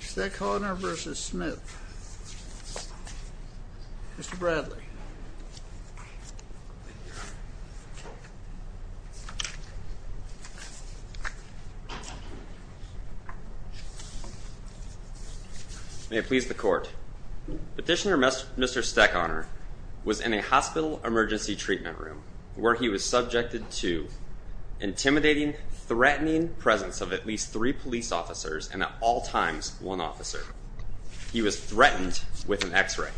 Stechauner v. Smith Mr. Bradley May it please the Court. Petitioner Mr. Stechauner was in a hospital emergency treatment room where he was subjected to intimidating, threatening presence of at least three police officers and at all times one officer. He was threatened with an x-ray.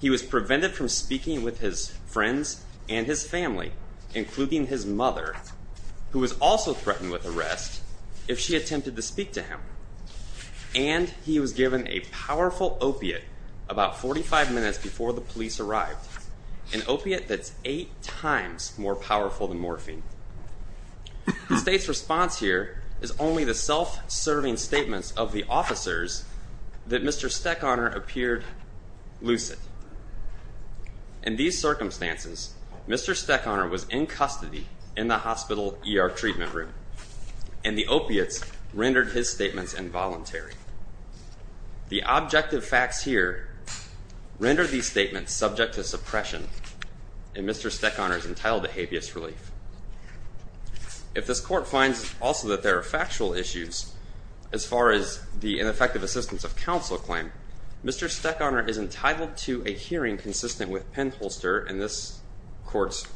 He was prevented from speaking with his friends and his family, including his mother, who was also threatened with arrest if she attempted to speak to him. And he was given a powerful opiate about 45 minutes before the police arrived, an opiate that's eight times more powerful than morphine. The State's response here is only the self-serving statements of the officers that Mr. Stechauner appeared lucid. In these circumstances, Mr. Stechauner was in custody in the hospital ER treatment room, and the opiates rendered his statements involuntary. The objective facts here render these statements subject to suppression, and Mr. Stechauner is entitled to habeas relief. If this Court finds also that there are factual issues as far as the ineffective assistance of counsel claim, Mr. Stechauner is entitled to a hearing consistent with Penholster and this Court's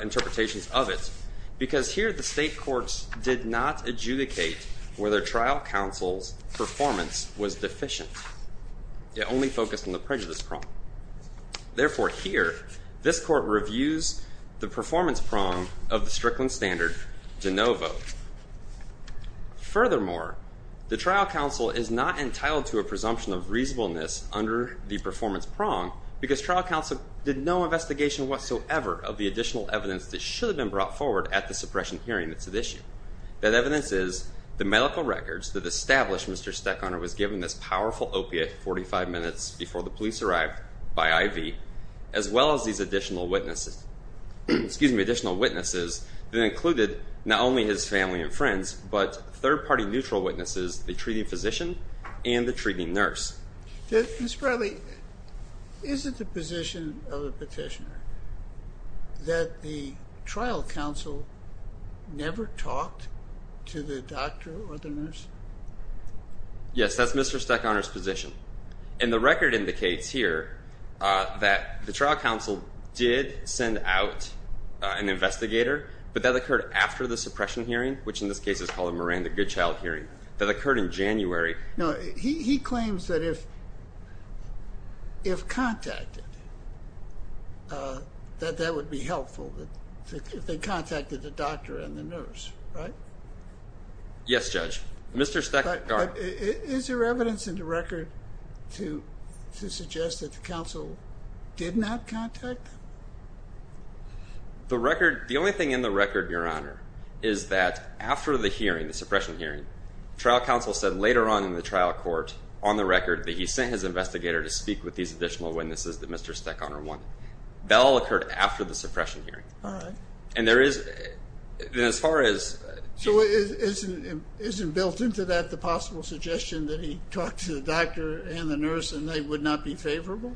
interpretations of it, because here the State Courts did not adjudicate whether trial counsel's performance was deficient. It only focused on the prejudice prong. Therefore, here, this Court reviews the performance prong of the Strickland Standard de novo. Furthermore, the trial counsel is not entitled to a presumption of reasonableness under the performance prong, because trial counsel did no investigation whatsoever of the additional evidence that should have been brought forward at the suppression hearing that's at issue. That evidence is the medical records that established Mr. Stechauner was given this powerful opiate 45 minutes before the police arrived by IV, as well as these additional witnesses that included not only his family and friends, but third-party neutral witnesses, the treating physician and the treating nurse. Mr. Bradley, is it the position of a petitioner that the trial counsel never talked to the doctor or the nurse? Yes, that's Mr. Stechauner's position. And the record indicates here that the trial counsel did send out an investigator, but that occurred after the suppression hearing, which in this case is called a Miranda Goodchild hearing. That occurred in January. No, he claims that if contacted, that that would be helpful, that they contacted the doctor and the nurse, right? Yes, Judge. Mr. Stechauner. But is there evidence in the record to suggest that the counsel did not contact them? The only thing in the record, Your Honor, is that after the hearing, the suppression hearing, trial counsel said later on in the trial court, on the record, that he sent his investigator to speak with these additional witnesses that Mr. Stechauner wanted. That all occurred after the suppression hearing. All right. And there is, as far as— So isn't built into that the possible suggestion that he talked to the doctor and the nurse and they would not be favorable?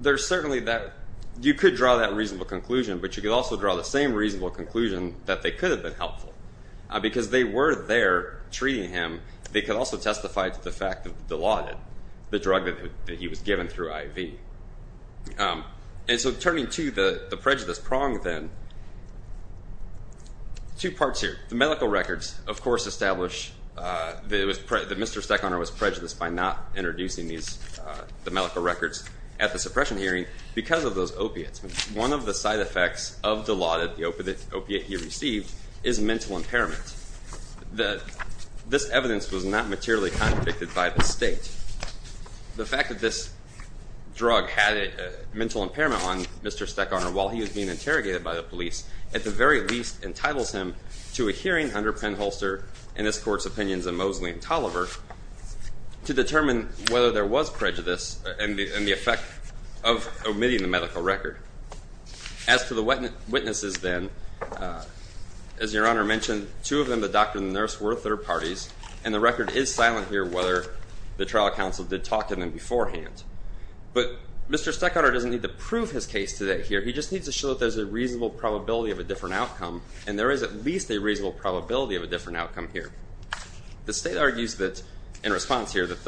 There's certainly that. You could draw that reasonable conclusion, but you could also draw the same reasonable conclusion that they could have been helpful, because they were there treating him. They could also testify to the fact that Dilaudid, the drug that he was given through IV. And so turning to the prejudice prong then, two parts here. The medical records, of course, establish that Mr. Stechauner was prejudiced by not introducing the medical records at the suppression hearing because of those opiates. One of the side effects of Dilaudid, the opiate he received, is mental impairment. This evidence was not materially contradicted by the state. The fact that this drug had a mental impairment on Mr. Stechauner while he was being interrogated by the police, at the very least entitles him to a hearing under Penn Holster and this court's opinions in Mosley and Tolliver to determine whether there was prejudice and the effect of omitting the medical record. As for the witnesses then, as Your Honor mentioned, two of them, the doctor and the nurse, were third parties, and the record is silent here whether the trial counsel did talk to them beforehand. But Mr. Stechauner doesn't need to prove his case today here. He just needs to show that there's a reasonable probability of a different outcome, and there is at least a reasonable probability of a different outcome here. The state argues that, in response here, that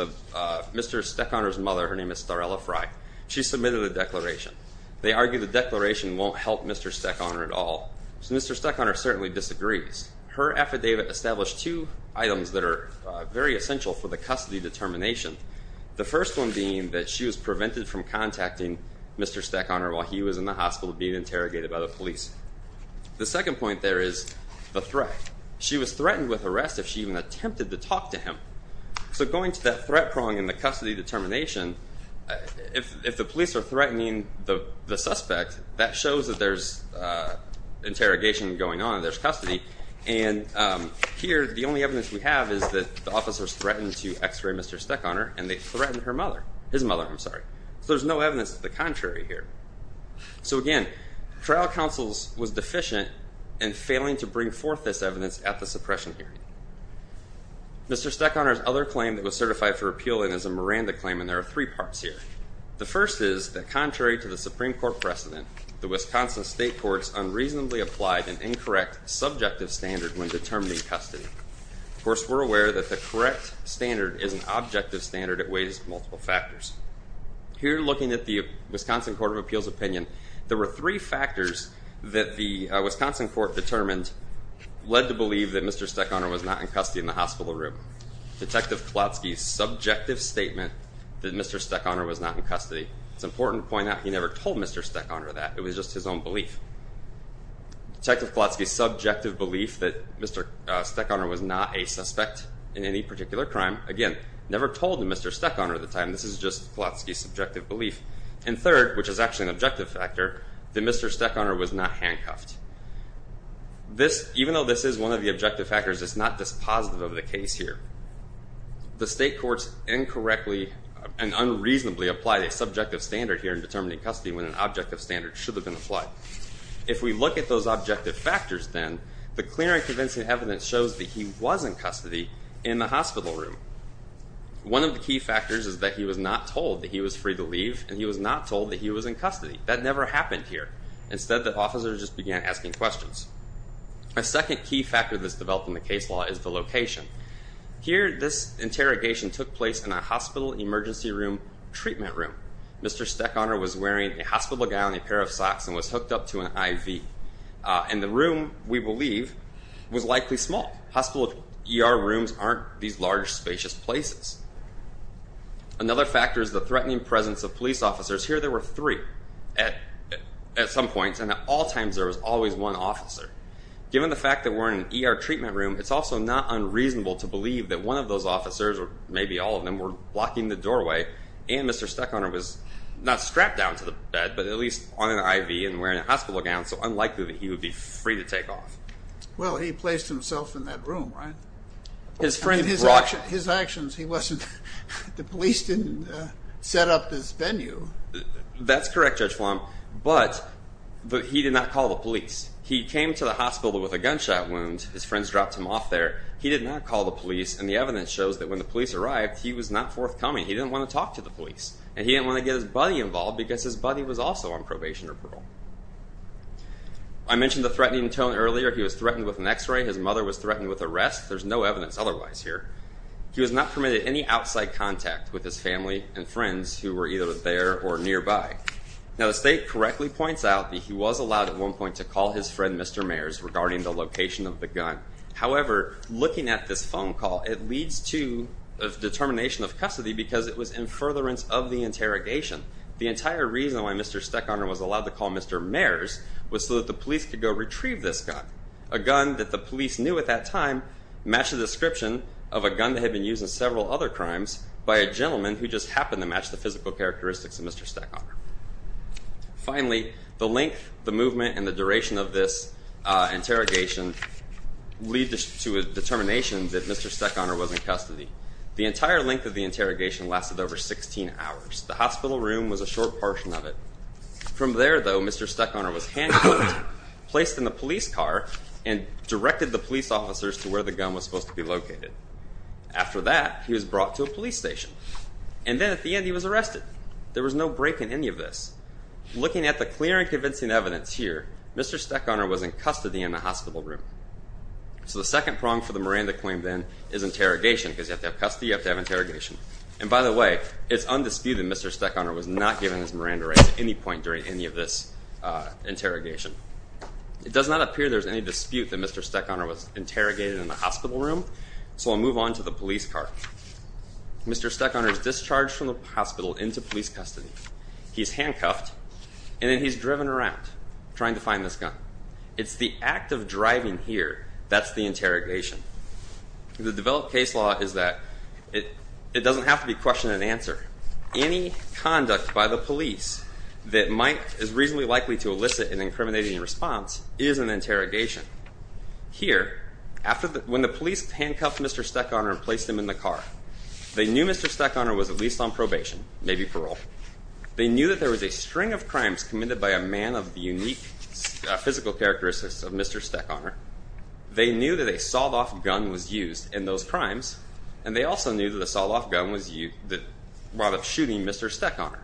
Mr. Stechauner's mother, her name is Starella Frye, she submitted a declaration. They argue the declaration won't help Mr. Stechauner at all. So Mr. Stechauner certainly disagrees. Her affidavit established two items that are very essential for the custody determination, the first one being that she was prevented from contacting Mr. Stechauner while he was in the hospital being interrogated by the police. The second point there is the threat. She was threatened with arrest if she even attempted to talk to him. So going to that threat prong in the custody determination, if the police are threatening the suspect, that shows that there's interrogation going on, there's custody, and here the only evidence we have is that the officers threatened to X-ray Mr. Stechauner and they threatened his mother. So there's no evidence to the contrary here. So again, trial counsels was deficient in failing to bring forth this evidence at the suppression hearing. Mr. Stechauner's other claim that was certified for appeal is a Miranda claim, and there are three parts here. The first is that contrary to the Supreme Court precedent, the Wisconsin state courts unreasonably applied an incorrect subjective standard when determining custody. Of course, we're aware that the correct standard is an objective standard that weighs multiple factors. Here, looking at the Wisconsin Court of Appeals opinion, there were three factors that the Wisconsin court determined led to believe that Mr. Stechauner was not in custody in the hospital room. Detective Klotsky's subjective statement that Mr. Stechauner was not in custody. It's important to point out he never told Mr. Stechauner that. It was just his own belief. Detective Klotsky's subjective belief that Mr. Stechauner was not a suspect in any particular crime. Again, never told Mr. Stechauner at the time. This is just Klotsky's subjective belief. And third, which is actually an objective factor, that Mr. Stechauner was not handcuffed. Even though this is one of the objective factors, it's not dispositive of the case here. The state courts incorrectly and unreasonably applied a subjective standard here in determining custody when an objective standard should have been applied. If we look at those objective factors then, the clear and convincing evidence shows that he was in custody in the hospital room. One of the key factors is that he was not told that he was free to leave and he was not told that he was in custody. That never happened here. Instead, the officers just began asking questions. A second key factor that's developed in the case law is the location. Here, this interrogation took place in a hospital emergency room treatment room. Mr. Stechauner was wearing a hospital gown and a pair of socks and was hooked up to an IV. And the room, we believe, was likely small. Hospital ER rooms aren't these large, spacious places. Another factor is the threatening presence of police officers. Here there were three at some points, and at all times there was always one officer. Given the fact that we're in an ER treatment room, it's also not unreasonable to believe that one of those officers, or maybe all of them, were blocking the doorway and Mr. Stechauner was not strapped down to the bed, but at least on an IV and wearing a hospital gown, so unlikely that he would be free to take off. Well, he placed himself in that room, right? His actions, he wasn't, the police didn't set up this venue. That's correct, Judge Flom, but he did not call the police. He came to the hospital with a gunshot wound. His friends dropped him off there. He did not call the police, and the evidence shows that when the police arrived, he was not forthcoming. He didn't want to talk to the police, and he didn't want to get his buddy involved because his buddy was also on probation or parole. I mentioned the threatening tone earlier. He was threatened with an X-ray. His mother was threatened with arrest. There's no evidence otherwise here. He was not permitted any outside contact with his family and friends who were either there or nearby. Now, the state correctly points out that he was allowed at one point to call his friend, Mr. Mayers, regarding the location of the gun. However, looking at this phone call, it leads to a determination of custody because it was in furtherance of the interrogation. The entire reason why Mr. Steckoner was allowed to call Mr. Mayers was so that the police could go retrieve this gun, a gun that the police knew at that time matched the description of a gun that had been used in several other crimes by a gentleman who just happened to match the physical characteristics of Mr. Steckoner. Finally, the length, the movement, and the duration of this interrogation lead to a determination that Mr. Steckoner was in custody. The entire length of the interrogation lasted over 16 hours. The hospital room was a short portion of it. From there, though, Mr. Steckoner was handcuffed, placed in a police car, and directed the police officers to where the gun was supposed to be located. After that, he was brought to a police station, and then at the end, he was arrested. There was no break in any of this. Looking at the clear and convincing evidence here, Mr. Steckoner was in custody in the hospital room. So the second prong for the Miranda claim then is interrogation because you have to have custody, you have to have interrogation. And by the way, it's undisputed that Mr. Steckoner was not given his Miranda right at any point during any of this interrogation. It does not appear there's any dispute that Mr. Steckoner was interrogated in the hospital room, so I'll move on to the police car. Mr. Steckoner is discharged from the hospital into police custody. He's handcuffed, and then he's driven around trying to find this gun. It's the act of driving here that's the interrogation. The developed case law is that it doesn't have to be question and answer. Any conduct by the police that is reasonably likely to elicit an incriminating response is an interrogation. Here, when the police handcuffed Mr. Steckoner and placed him in the car, they knew Mr. Steckoner was at least on probation, maybe parole. They knew that there was a string of crimes committed by a man of the unique physical characteristics of Mr. Steckoner. They knew that a sawed-off gun was used in those crimes, and they also knew that the sawed-off gun was used while shooting Mr. Steckoner.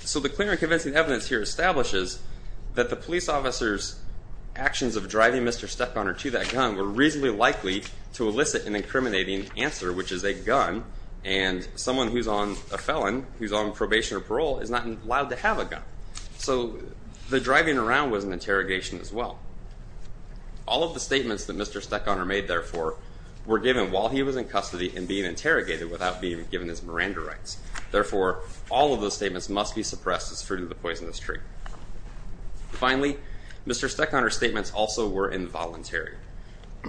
So the clear and convincing evidence here establishes that the police officer's actions of driving Mr. Steckoner to that gun were reasonably likely to elicit an incriminating answer, which is a gun, and someone who's on a felon, who's on probation or parole, is not allowed to have a gun. So the driving around was an interrogation as well. All of the statements that Mr. Steckoner made, therefore, were given while he was in custody and being interrogated without being given his Miranda rights. Therefore, all of those statements must be suppressed as fruit of the poisonous tree. Finally, Mr. Steckoner's statements also were involuntary.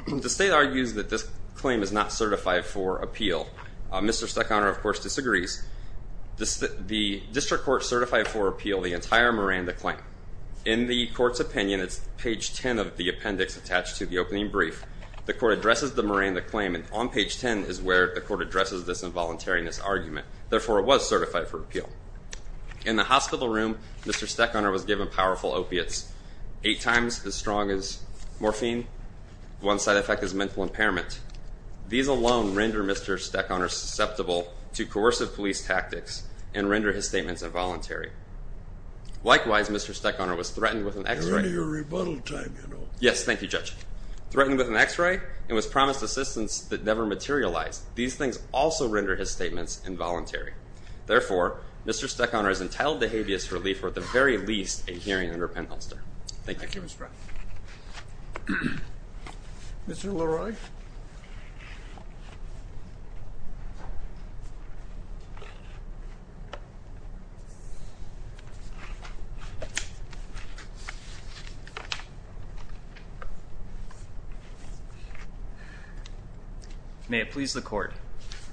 The state argues that this claim is not certified for appeal. Mr. Steckoner, of course, disagrees. The district court certified for appeal the entire Miranda claim. In the court's opinion, it's page 10 of the appendix attached to the opening brief. The court addresses the Miranda claim, and on page 10 is where the court addresses this involuntariness argument. Therefore, it was certified for appeal. In the hospital room, Mr. Steckoner was given powerful opiates, eight times as strong as morphine. One side effect is mental impairment. These alone render Mr. Steckoner susceptible to coercive police tactics and render his statements involuntary. Likewise, Mr. Steckoner was threatened with an X-ray. You're into your rebuttal time, you know. Yes, thank you, Judge. Threatened with an X-ray and was promised assistance that never materialized. These things also render his statements involuntary. Therefore, Mr. Steckoner is entitled to habeas relief or at the very least a hearing under penholster. Thank you. Thank you, Mr. Brown. Mr. Leroy. May it please the court.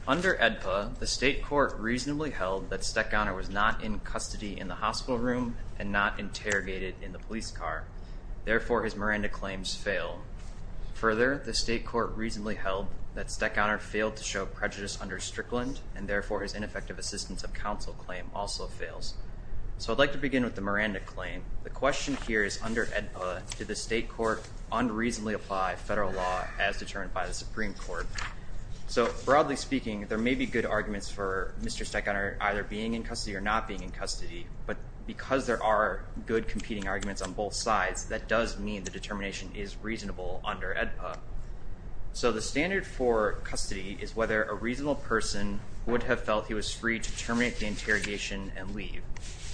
Under AEDPA, the state court reasonably held that Steckoner was not in custody in the hospital room and not interrogated in the police car. Therefore, his Miranda claims fail. Further, the state court reasonably held that Steckoner failed to show prejudice under Strickland, and therefore his ineffective assistance of counsel claim also fails. So I'd like to begin with the Miranda claim. The question here is under AEDPA, did the state court unreasonably apply federal law as determined by the Supreme Court? So broadly speaking, there may be good arguments for Mr. Steckoner either being in custody or not being in custody, but because there are good competing arguments on both sides, that does mean the determination is reasonable under AEDPA. So the standard for custody is whether a reasonable person would have felt he was free to terminate the interrogation and leave.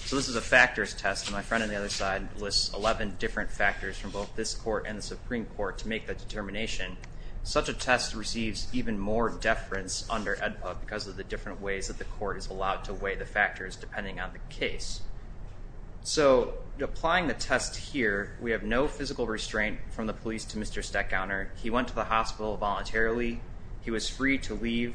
So this is a factors test, and my friend on the other side lists 11 different factors from both this court and the Supreme Court to make that determination. Such a test receives even more deference under AEDPA because of the different ways that the court is allowed to weigh the factors depending on the case. So applying the test here, we have no physical restraint from the police to Mr. Steckoner. He went to the hospital voluntarily. He was free to leave.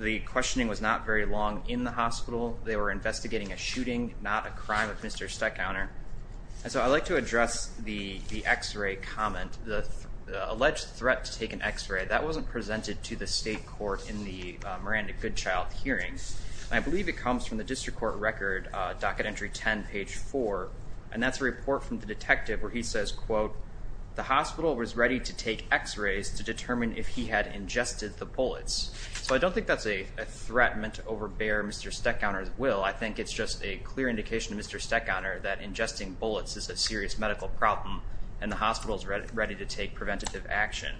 The questioning was not very long in the hospital. They were investigating a shooting, not a crime of Mr. Steckoner. So I'd like to address the X-ray comment, the alleged threat to take an X-ray. That wasn't presented to the state court in the Miranda Goodchild hearings. I believe it comes from the district court record, docket entry 10, page 4, and that's a report from the detective where he says, quote, the hospital was ready to take X-rays to determine if he had ingested the bullets. So I don't think that's a threat meant to overbear Mr. Steckoner's will. I think it's just a clear indication to Mr. Steckoner that ingesting bullets is a serious medical problem, and the hospital is ready to take preventative action.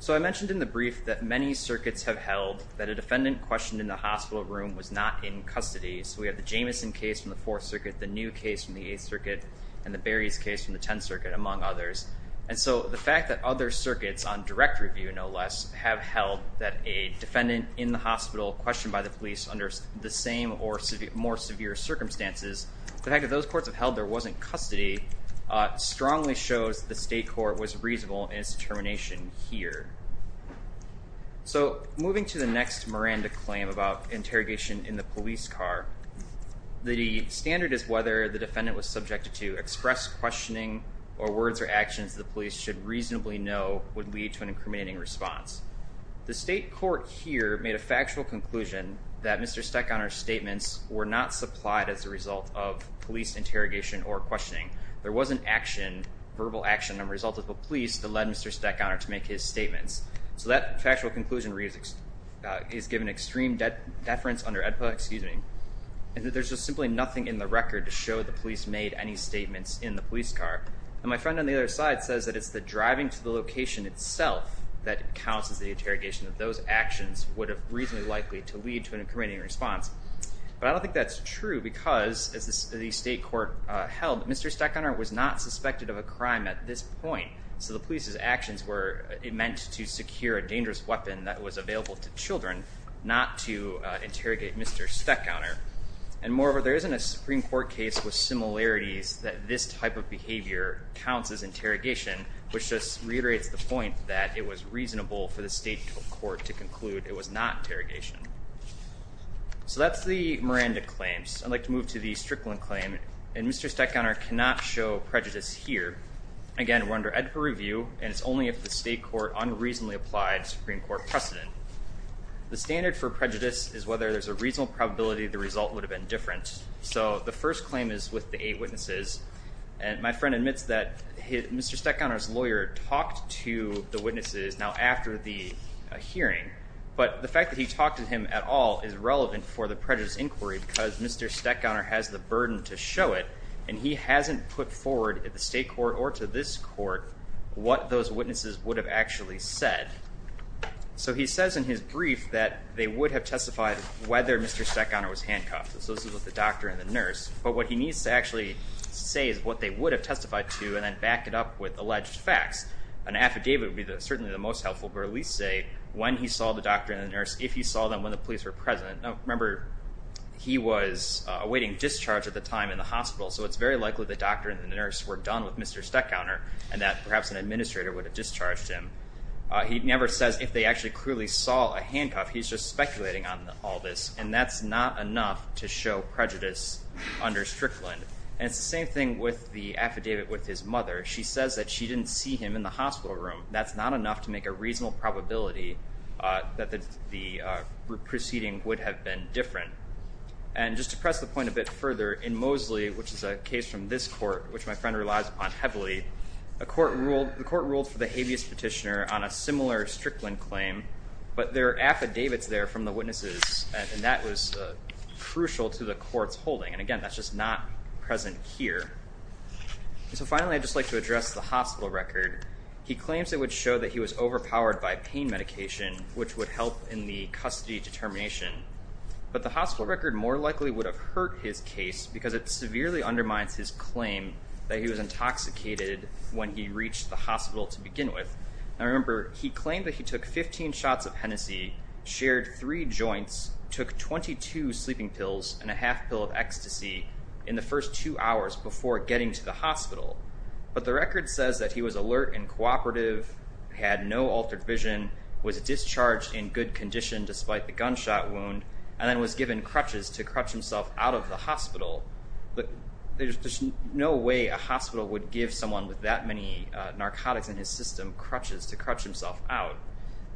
So I mentioned in the brief that many circuits have held that a defendant questioned in the hospital room was not in custody. So we have the Jamison case from the Fourth Circuit, the New case from the Eighth Circuit, and the Berries case from the Tenth Circuit, among others. And so the fact that other circuits on direct review, no less, have held that a defendant in the hospital questioned by the police under the same or more severe circumstances, the fact that those courts have held there wasn't custody strongly shows the state court was reasonable in its determination here. So moving to the next Miranda claim about interrogation in the police car, the standard is whether the defendant was subjected to express questioning or words or actions the police should reasonably know would lead to an incriminating response. The state court here made a factual conclusion that Mr. Steckoner's statements were not supplied as a result of police interrogation or questioning. There wasn't action, verbal action, that resulted from police that led Mr. Steckoner to make his statements. So that factual conclusion is given extreme deference under AEDPA, excuse me, and that there's just simply nothing in the record to show the police made any statements in the police car. And my friend on the other side says that it's the driving to the location itself that counts as the interrogation, that those actions would have reasonably likely to lead to an incriminating response. But I don't think that's true because, as the state court held, Mr. Steckoner was not suspected of a crime at this point. So the police's actions were meant to secure a dangerous weapon that was available to children, not to interrogate Mr. Steckoner. And moreover, there isn't a Supreme Court case with similarities that this type of behavior counts as interrogation, which just reiterates the point that it was reasonable for the state court to conclude it was not interrogation. So that's the Miranda claims. I'd like to move to the Strickland claim, and Mr. Steckoner cannot show prejudice here. Again, we're under AEDPA review, and it's only if the state court unreasonably applied Supreme Court precedent. The standard for prejudice is whether there's a reasonable probability the result would have been different. So the first claim is with the eight witnesses. And my friend admits that Mr. Steckoner's lawyer talked to the witnesses now after the hearing, but the fact that he talked to him at all is relevant for the prejudice inquiry because Mr. Steckoner has the burden to show it, and he hasn't put forward at the state court or to this court what those witnesses would have actually said. So he says in his brief that they would have testified whether Mr. Steckoner was handcuffed. So this is with the doctor and the nurse. But what he needs to actually say is what they would have testified to and then back it up with alleged facts. An affidavit would be certainly the most helpful, but at least say when he saw the doctor and the nurse, if he saw them, when the police were present. Remember, he was awaiting discharge at the time in the hospital, so it's very likely the doctor and the nurse were done with Mr. Steckoner and that perhaps an administrator would have discharged him. He never says if they actually clearly saw a handcuff. He's just speculating on all this, and that's not enough to show prejudice under Strickland. And it's the same thing with the affidavit with his mother. She says that she didn't see him in the hospital room. That's not enough to make a reasonable probability that the proceeding would have been different. And just to press the point a bit further, in Mosley, which is a case from this court, which my friend relies upon heavily, the court ruled for the habeas petitioner on a similar Strickland claim, but there are affidavits there from the witnesses, and that was crucial to the court's holding. And again, that's just not present here. And so finally, I'd just like to address the hospital record. He claims it would show that he was overpowered by pain medication, which would help in the custody determination. But the hospital record more likely would have hurt his case because it severely undermines his claim that he was intoxicated when he reached the hospital to begin with. Now, remember, he claimed that he took 15 shots of Hennessy, shared three joints, took 22 sleeping pills and a half pill of ecstasy in the first two hours before getting to the hospital. But the record says that he was alert and cooperative, had no altered vision, was discharged in good condition despite the gunshot wound, and then was given crutches to crutch himself out of the hospital. But there's no way a hospital would give someone with that many narcotics in his system crutches to crutch himself out.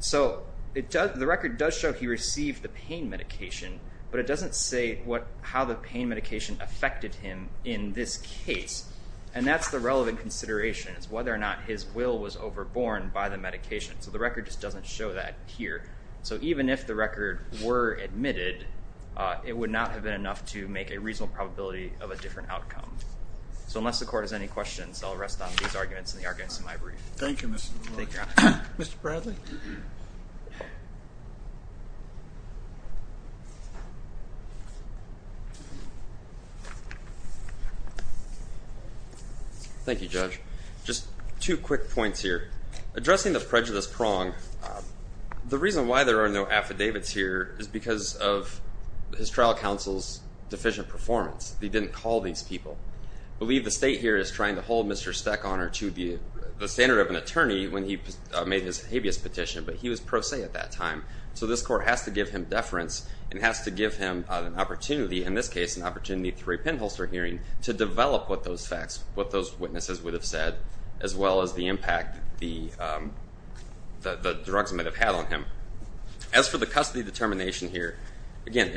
So the record does show he received the pain medication, but it doesn't say how the pain medication affected him in this case. And that's the relevant consideration is whether or not his will was overborne by the medication. So the record just doesn't show that here. So even if the record were admitted, it would not have been enough to make a reasonable probability of a different outcome. So unless the court has any questions, I'll rest on these arguments and the arguments in my brief. Thank you, Mr. LeBlanc. Mr. Bradley? Thank you, Judge. Just two quick points here. Addressing the prejudice prong, the reason why there are no affidavits here is because of his trial counsel's deficient performance. They didn't call these people. I believe the state here is trying to hold Mr. Steckoner to the standard of an attorney when he made his habeas petition, but he was pro se at that time. So this court has to give him deference and has to give him an opportunity, in this case, an opportunity through a pinholster hearing to develop what those facts, what those witnesses would have said, as well as the impact that the drugs might have had on him. As for the custody determination here, again,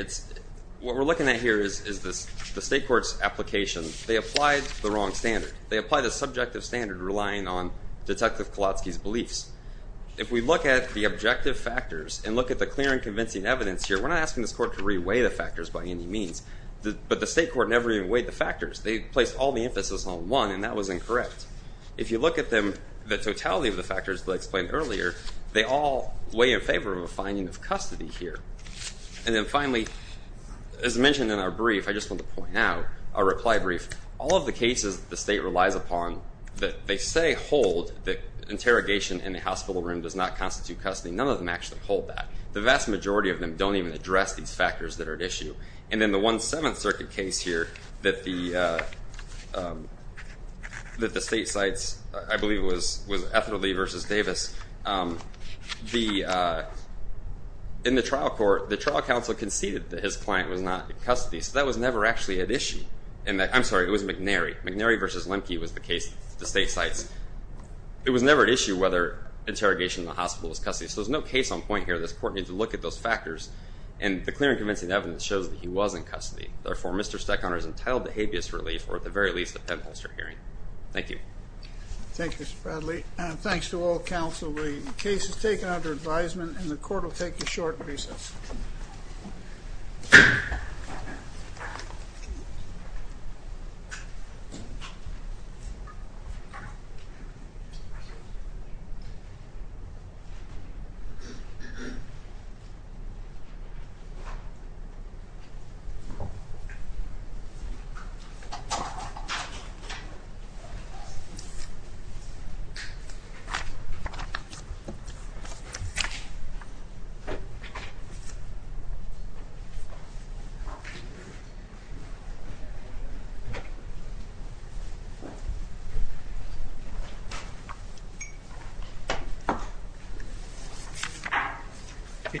what we're looking at here is the state court's application. They applied the wrong standard. They applied a subjective standard relying on Detective Kowalski's beliefs. If we look at the objective factors and look at the clear and convincing evidence here, we're not asking this court to reweigh the factors by any means, but the state court never even weighed the factors. They placed all the emphasis on one, and that was incorrect. If you look at them, the totality of the factors that I explained earlier, they all weigh in favor of a finding of custody here. And then finally, as mentioned in our brief, I just want to point out, our reply brief, all of the cases the state relies upon that they say hold that interrogation in the hospital room does not constitute custody, none of them actually hold that. The vast majority of them don't even address these factors that are at issue. And in the 1-7th Circuit case here that the state cites, I believe it was Ethelde versus Davis, in the trial court, the trial counsel conceded that his client was not in custody, so that was never actually at issue. I'm sorry, it was McNary. McNary versus Lemke was the case, the state cites. It was never at issue whether interrogation in the hospital was custody, so there's no case on point here that this court needs to look at those factors. And the clear and convincing evidence shows that he was in custody. Therefore, Mr. Steckhoner is entitled to habeas relief or at the very least a penholster hearing. Thank you. Thank you, Mr. Bradley. Thanks to all counsel. The case is taken under advisement and the court will take a short recess.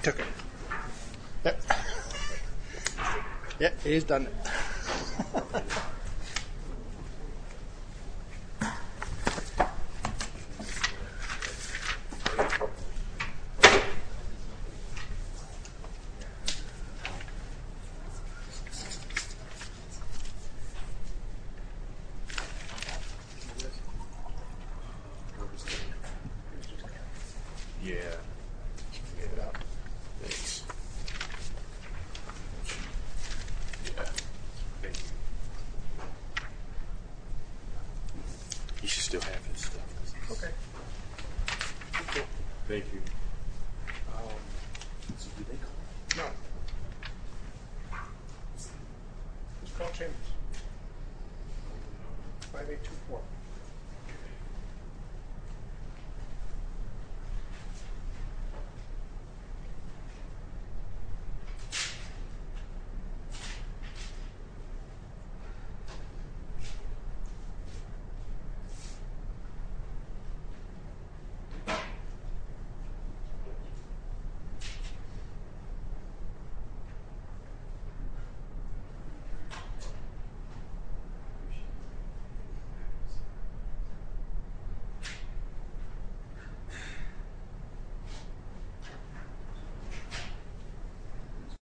Thank you. Thank you. Okay. Thanks. You should still have this. Okay. Thank you. No. It's Carl Chambers. 5824. Thank you.